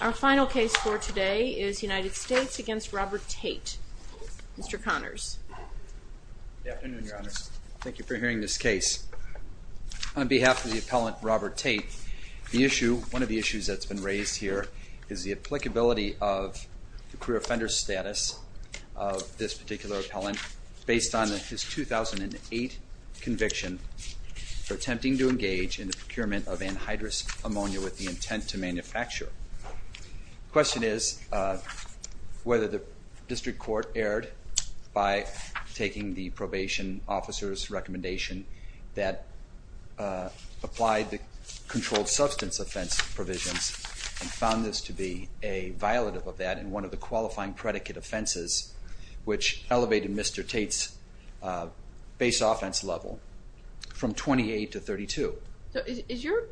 Our final case for today is United States v. Robert Tate. Mr. Connors. Good afternoon, Your Honors. Thank you for hearing this case. On behalf of the appellant, Robert Tate, the issue, one of the issues that's been raised here is the applicability of the career offender status of this particular appellant based on his 2008 conviction for attempting to engage in the procurement of anhydrous ammonia with the intent to manufacture. The question is whether the district court erred by taking the probation officer's recommendation that applied the controlled substance offense provisions and found this to be a violative of that and one of the qualifying predicate offenses which elevated Mr. Tate's base offense level from 28 to 32. Is your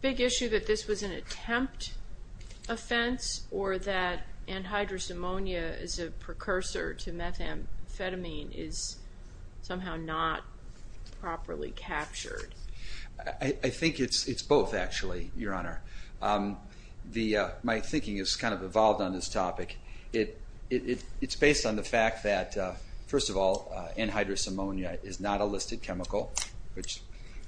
big issue that this was an attempt offense or that anhydrous ammonia as a precursor to methamphetamine is somehow not properly captured? I think it's both, actually, Your Honor. My thinking has kind of evolved on this topic. It's based on the fact that, first of all, anhydrous ammonia is not a listed chemical, which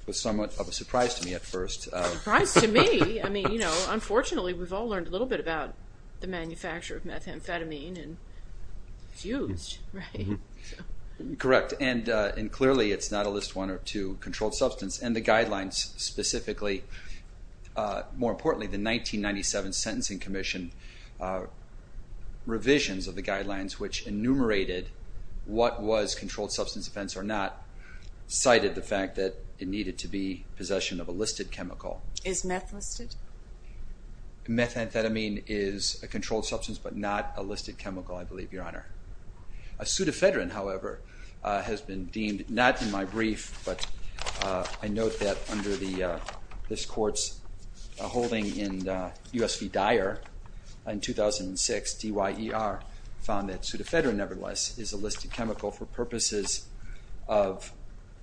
was somewhat of a surprise to me at first. Surprise to me? I mean, you know, unfortunately we've all learned a little bit about the manufacture of methamphetamine and it's used, right? Correct, and clearly it's not a list one or two controlled substance, and the guidelines specifically, more importantly, the 1997 Sentencing Commission revisions of the guidelines which enumerated what was controlled substance offense or not, cited the fact that it needed to be possession of a listed chemical. Is meth listed? Methamphetamine is a controlled substance but not a listed chemical, I believe, Your Honor. Sudafedrin, however, has been deemed, not in my brief, but I note that under this Court's holding in U.S. v. Dyer in 2006, D-Y-E-R found that sudafedrin, nevertheless, is a listed chemical for purposes of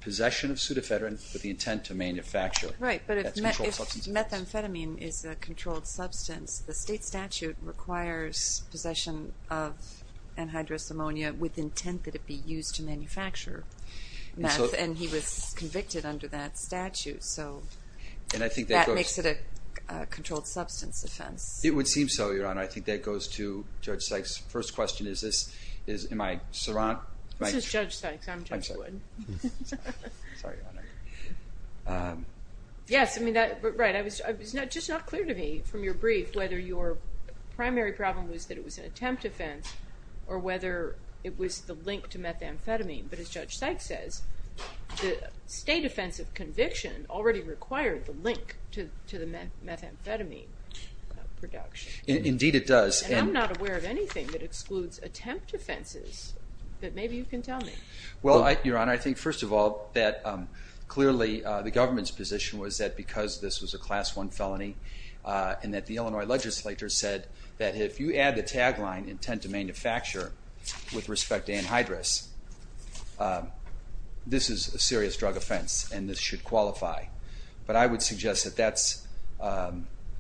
possession of sudafedrin with the intent to manufacture. Right, but if methamphetamine is a controlled substance, the state statute requires possession of anhydrous ammonia with intent that it be used to manufacture meth, and he was convicted under that statute, so that makes it a controlled substance offense. It would seem so, Your Honor. I think that goes to Judge Sykes. First question is this, am I surrounded? This is Judge Sykes, I'm Judge Wood. I'm sorry, Your Honor. Yes, I mean, right, it was just not clear to me from your brief whether your primary problem was that it was an attempt offense or whether it was the link to methamphetamine, but as Judge Sykes says, the state offense of conviction already required the link to the methamphetamine production. Indeed it does. And I'm not aware of anything that excludes attempt offenses, but maybe you can tell me. Well, Your Honor, I think first of all that clearly the government's position was that because this was a Class I felony and that the Illinois legislature said that if you add the tagline, intent to manufacture with respect to anhydrous, this is a serious drug offense and this should qualify. But I would suggest that that's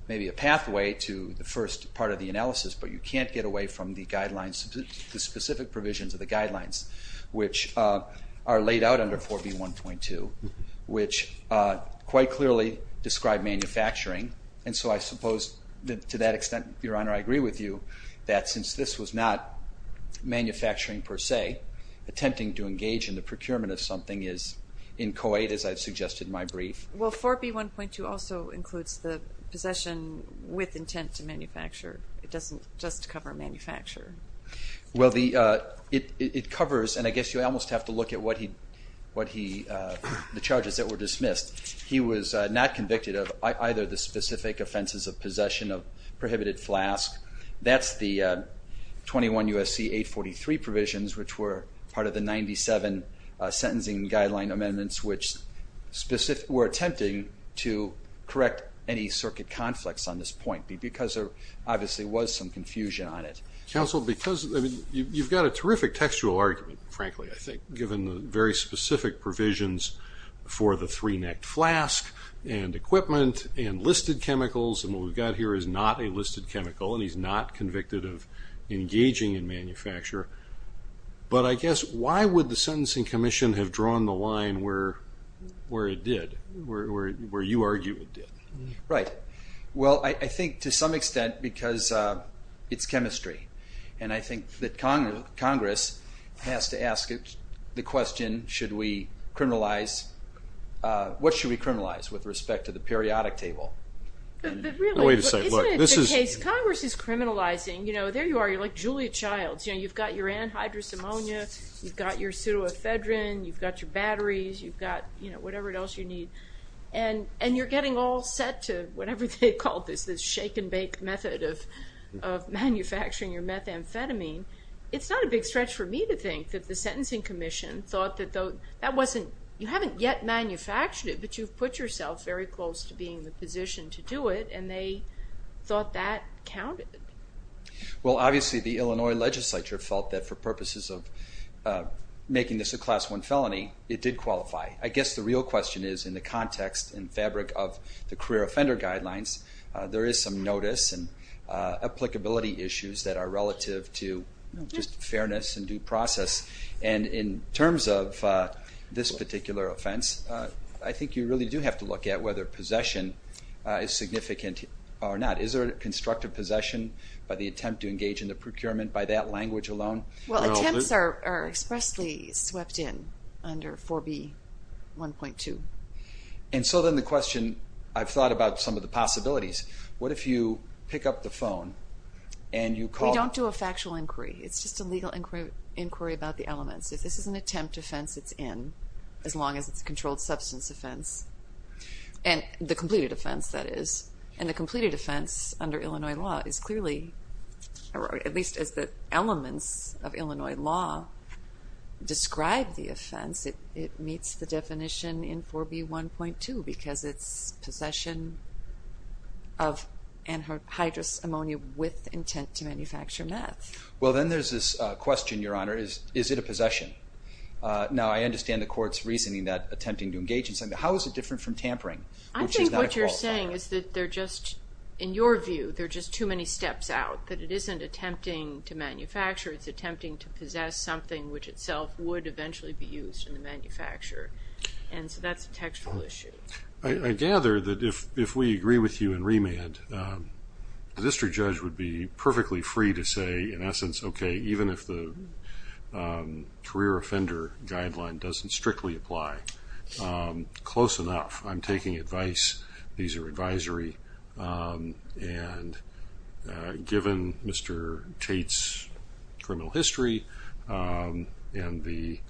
maybe a pathway to the first part of the analysis, but you can't get away from the guidelines, the specific provisions of the guidelines, which are laid out under 4B1.2, which quite clearly describe manufacturing. And so I suppose to that extent, Your Honor, I agree with you that since this was not manufacturing per se, attempting to engage in the procurement of something is inchoate, as I've suggested in my brief. Well, 4B1.2 also includes the possession with intent to manufacture. It doesn't just cover manufacture. Well, it covers, and I guess you almost have to look at the charges that were dismissed. He was not convicted of either the specific offenses of possession of prohibited flask. That's the 21 U.S.C. 843 provisions, which were part of the 97 sentencing guideline amendments, which were attempting to correct any circuit conflicts on this point because there obviously was some confusion on it. Counsel, because you've got a terrific textual argument, frankly, I think, given the very specific provisions for the three-necked flask and equipment and listed chemicals, and what we've got here is not a listed chemical, and he's not convicted of engaging in manufacture. But I guess why would the Sentencing Commission have drawn the line where it did, where you argue it did? Right. Well, I think to some extent because it's chemistry, and I think that Congress has to ask the question, should we criminalize, what should we criminalize with respect to the periodic table? But really, isn't it the case Congress is criminalizing, you know, there you are, you're like Julia Childs. You've got your anhydrous ammonia, you've got your pseudoephedrine, you've got your batteries, you've got, you know, whatever else you need, and you're getting all set to whatever they call this, this shake-and-bake method of manufacturing your methamphetamine. It's not a big stretch for me to think that the Sentencing Commission thought that that wasn't, you haven't yet manufactured it, but you've put yourself very close to being in the position to do it, and they thought that counted. Well, obviously the Illinois legislature felt that for purposes of making this a Class I felony, it did qualify. I guess the real question is in the context and fabric of the career offender guidelines, there is some notice and applicability issues that are relative to just fairness and due process. And in terms of this particular offense, I think you really do have to look at whether possession is significant or not. Is there constructive possession by the attempt to engage in the procurement by that language alone? Well, attempts are expressly swept in under 4B1.2. And so then the question, I've thought about some of the possibilities. What if you pick up the phone and you call? We don't do a factual inquiry. It's just a legal inquiry about the elements. If this is an attempt offense, it's in, as long as it's a controlled substance offense, and the completed offense, that is. And the completed offense under Illinois law is clearly, or at least as the elements of Illinois law describe the offense, it meets the definition in 4B1.2 because it's possession of anhydrous ammonia with intent to manufacture meth. Well, then there's this question, Your Honor, is it a possession? Now, I understand the court's reasoning that attempting to engage in something, but how is it different from tampering, which is not a qualifier? I think what you're saying is that they're just, in your view, they're just too many steps out, that it isn't attempting to manufacture. It's attempting to possess something which itself would eventually be used in the manufacture. And so that's a textual issue. I gather that if we agree with you in remand, the district judge would be perfectly free to say, in essence, okay, even if the career offender guideline doesn't strictly apply, close enough. I'm taking advice. These are advisory. And given Mr. Tate's criminal history and the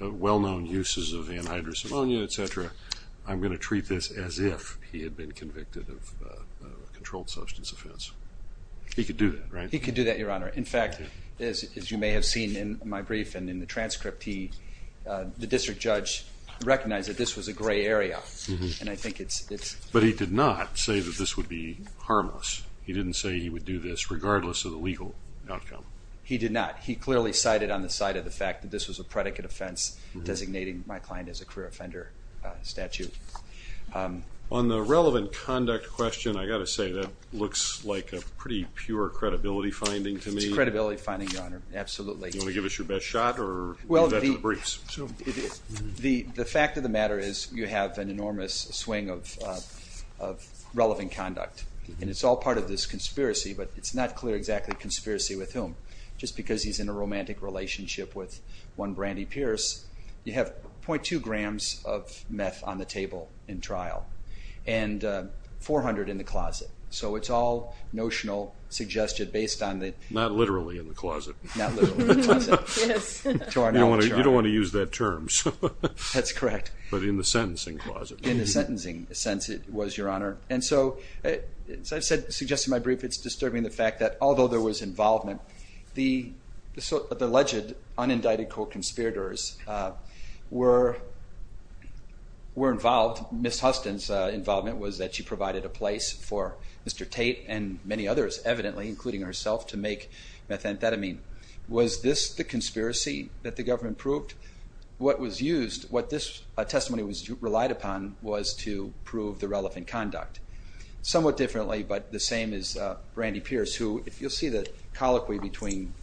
well-known uses of anhydrous ammonia, et cetera, I'm going to treat this as if he had been convicted of a controlled substance offense. He could do that, right? In fact, as you may have seen in my brief and in the transcript, the district judge recognized that this was a gray area. But he did not say that this would be harmless. He didn't say he would do this regardless of the legal outcome. He did not. He clearly cited on the side of the fact that this was a predicate offense, designating my client as a career offender statute. On the relevant conduct question, I've got to say that looks like a pretty pure credibility finding to me. It's a credibility finding, Your Honor, absolutely. Do you want to give us your best shot or leave that to the briefs? The fact of the matter is you have an enormous swing of relevant conduct, and it's all part of this conspiracy, but it's not clear exactly conspiracy with whom. Just because he's in a romantic relationship with one Brandy Pierce, you have 0.2 grams of meth on the table in trial and 400 in the closet. So it's all notional, suggested based on the- Not literally in the closet. Not literally in the closet. Yes. You don't want to use that term. That's correct. But in the sentencing closet. In the sentencing sense, it was, Your Honor. And so, as I suggested in my brief, it's disturbing the fact that although there was involvement, the alleged unindicted co-conspirators were involved. Ms. Huston's involvement was that she provided a place for Mr. Tate and many others, evidently, including herself, to make methamphetamine. Was this the conspiracy that the government proved? What was used, what this testimony relied upon, was to prove the relevant conduct. Somewhat differently, but the same as Brandy Pierce, who, if you'll see the colloquy between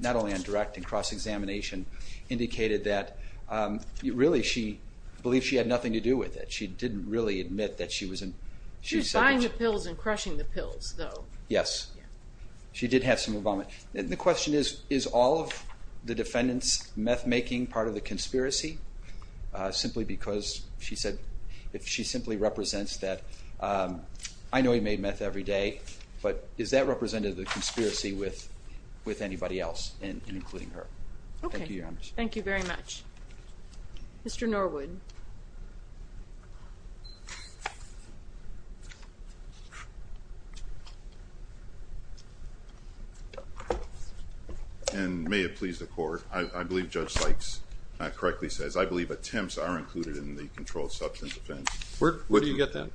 not only on direct and cross-examination, indicated that really she believed she had nothing to do with it. She didn't really admit that she was in- She was buying the pills and crushing the pills, though. Yes. She did have some involvement. The question is, is all of the defendant's meth-making part of the conspiracy, simply because she said she simply represents that. I know he made meth every day, but is that representative of the conspiracy with anybody else, including her? Okay. Thank you, Your Honor. Thank you very much. Mr. Norwood. And may it please the Court, I believe Judge Sykes correctly says, I believe attempts are included in the controlled substance offense. Where do you get that?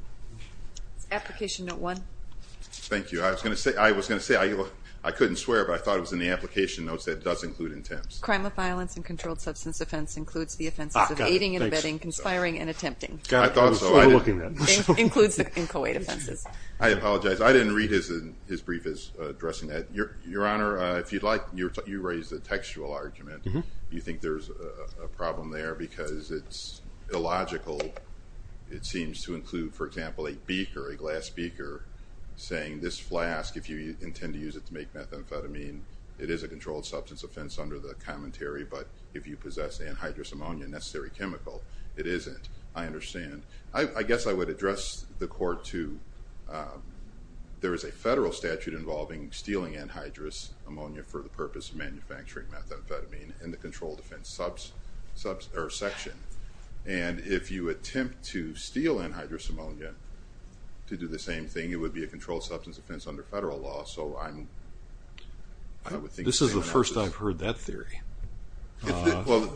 Application Note 1. Thank you. I was going to say, I couldn't swear, but I thought it was in the application notes that it does include attempts. Crime of violence and controlled substance offense includes the offenses of aiding and abetting, conspiring and attempting. I thought so. Includes the inchoate offenses. I apologize. I didn't read his brief as addressing that. Your Honor, if you'd like, you raised the textual argument. You think there's a problem there because it's illogical. It seems to include, for example, a beaker, a glass beaker, saying this flask, if you intend to use it to make methamphetamine, it is a controlled substance offense under the commentary, but if you possess anhydrous ammonia, a necessary chemical, it isn't. I understand. I guess I would address the Court to, there is a federal statute involving stealing anhydrous ammonia for the purpose of manufacturing methamphetamine in the controlled offense section, and if you attempt to steal anhydrous ammonia to do the same thing, it would be a controlled substance offense under federal law, so I'm, I would think the same thing. This is the first I've heard that theory. Well,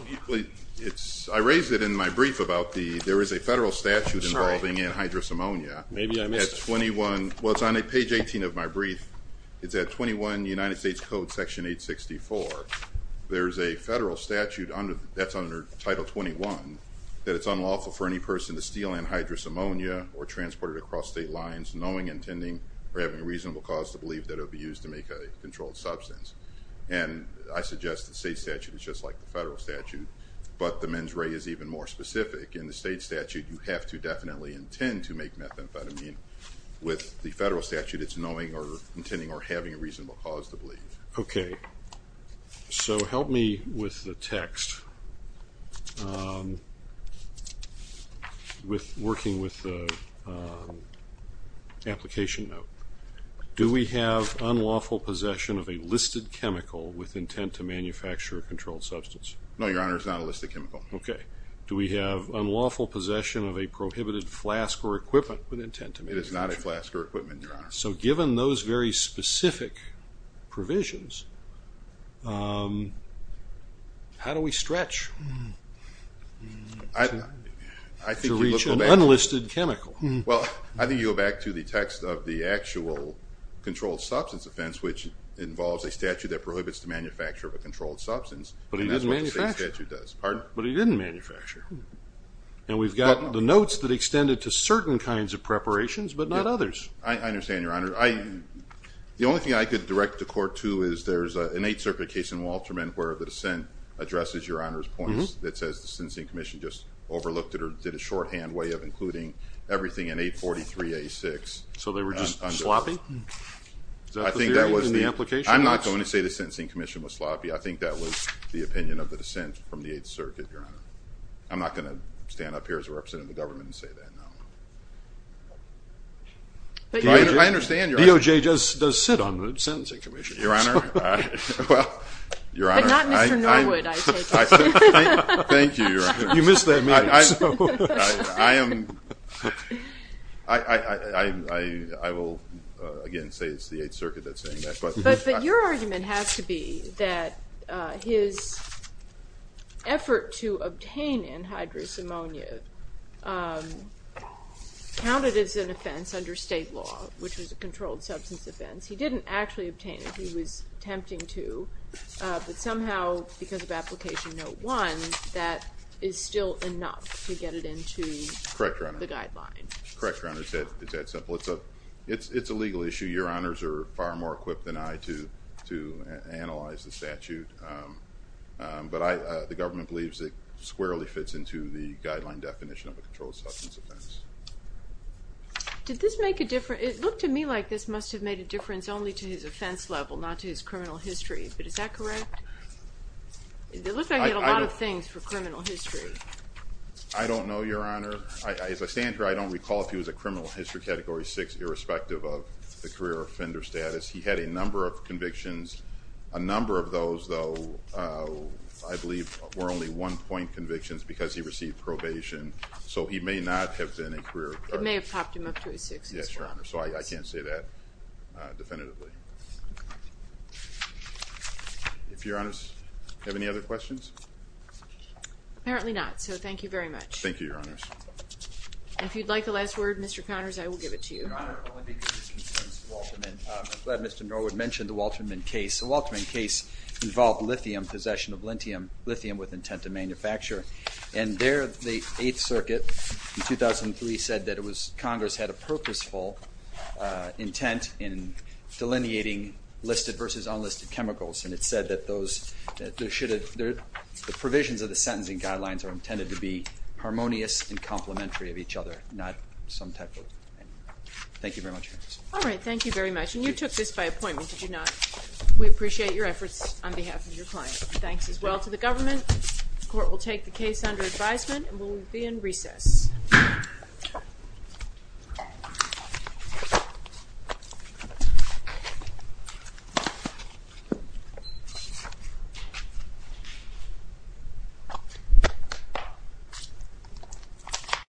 it's, I raised it in my brief about the, there is a federal statute involving anhydrous ammonia. Maybe I missed it. At 21, well, it's on page 18 of my brief. It's at 21 United States Code section 864. There's a federal statute under, that's under title 21, that it's unlawful for any person to steal anhydrous ammonia or transport it across state lines knowing, intending, or having a reasonable cause to believe that it would be used to make a controlled substance. And I suggest the state statute is just like the federal statute, but the mens rea is even more specific. In the state statute, you have to definitely intend to make methamphetamine. With the federal statute, it's knowing or intending or having a reasonable cause to believe. Okay. So help me with the text. With working with the application note. Do we have unlawful possession of a listed chemical with intent to manufacture a controlled substance? No, Your Honor, it's not a listed chemical. Okay. Do we have unlawful possession of a prohibited flask or equipment with intent to manufacture? It is not a flask or equipment, Your Honor. So given those very specific provisions, how do we stretch to reach an unlisted chemical? Well, I think you go back to the text of the actual controlled substance offense, which involves a statute that prohibits the manufacture of a controlled substance. But it didn't manufacture. And that's what the state statute does. Pardon? But it didn't manufacture. And we've got the notes that extended to certain kinds of preparations, but not others. I understand, Your Honor. The only thing I could direct the court to is there's an Eighth Circuit case in Walterman where the dissent addresses Your Honor's points. just overlooked it or did a shorthand way of including everything in 843A6. So they were just sloppy? Is that the theory in the application? I'm not going to say the sentencing commission was sloppy. I think that was the opinion of the dissent from the Eighth Circuit, Your Honor. I'm not going to stand up here as a representative of the government and say that, no. But DOJ does sit on the sentencing commission. Your Honor, well, Your Honor. But not Mr. Norwood, I take it. Thank you, Your Honor. You missed that meeting. I will, again, say it's the Eighth Circuit that's saying that. But your argument has to be that his effort to obtain anhydrous ammonia counted as an offense under state law, which was a controlled substance offense. He didn't actually obtain it. He was attempting to. But somehow, because of application note one, that is still enough to get it into the guideline. Correct, Your Honor. Correct, Your Honor. It's that simple. It's a legal issue. Your Honors are far more equipped than I to analyze the statute. But the government believes it squarely fits into the guideline definition of a controlled substance offense. Did this make a difference? It looked to me like this must have made a difference only to his offense level, not to his criminal history. But is that correct? It looked like he had a lot of things for criminal history. I don't know, Your Honor. As I stand here, I don't recall if he was a criminal history Category 6, irrespective of the career offender status. He had a number of convictions. A number of those, though, I believe were only one-point convictions because he received probation. So he may not have been a career offender. It may have popped him up to a 6 as well. Yes, Your Honor. So I can't say that definitively. If Your Honors have any other questions? Apparently not. So thank you very much. Thank you, Your Honors. If you'd like the last word, Mr. Connors, I will give it to you. Your Honor, only because this concerns the Walterman. I'm glad Mr. Norwood mentioned the Walterman case. The Walterman case involved lithium, possession of lithium with intent to manufacture. And there, the Eighth Circuit in 2003 said that Congress had a purposeful intent in delineating listed versus unlisted chemicals. And it said that the provisions of the sentencing guidelines are intended to be harmonious and complementary of each other, not some type of. Thank you very much. All right. Thank you very much. And you took this by appointment, did you not? We appreciate your efforts on behalf of your client. Thanks as well to the government. The court will take the case under advisement and will be in recess.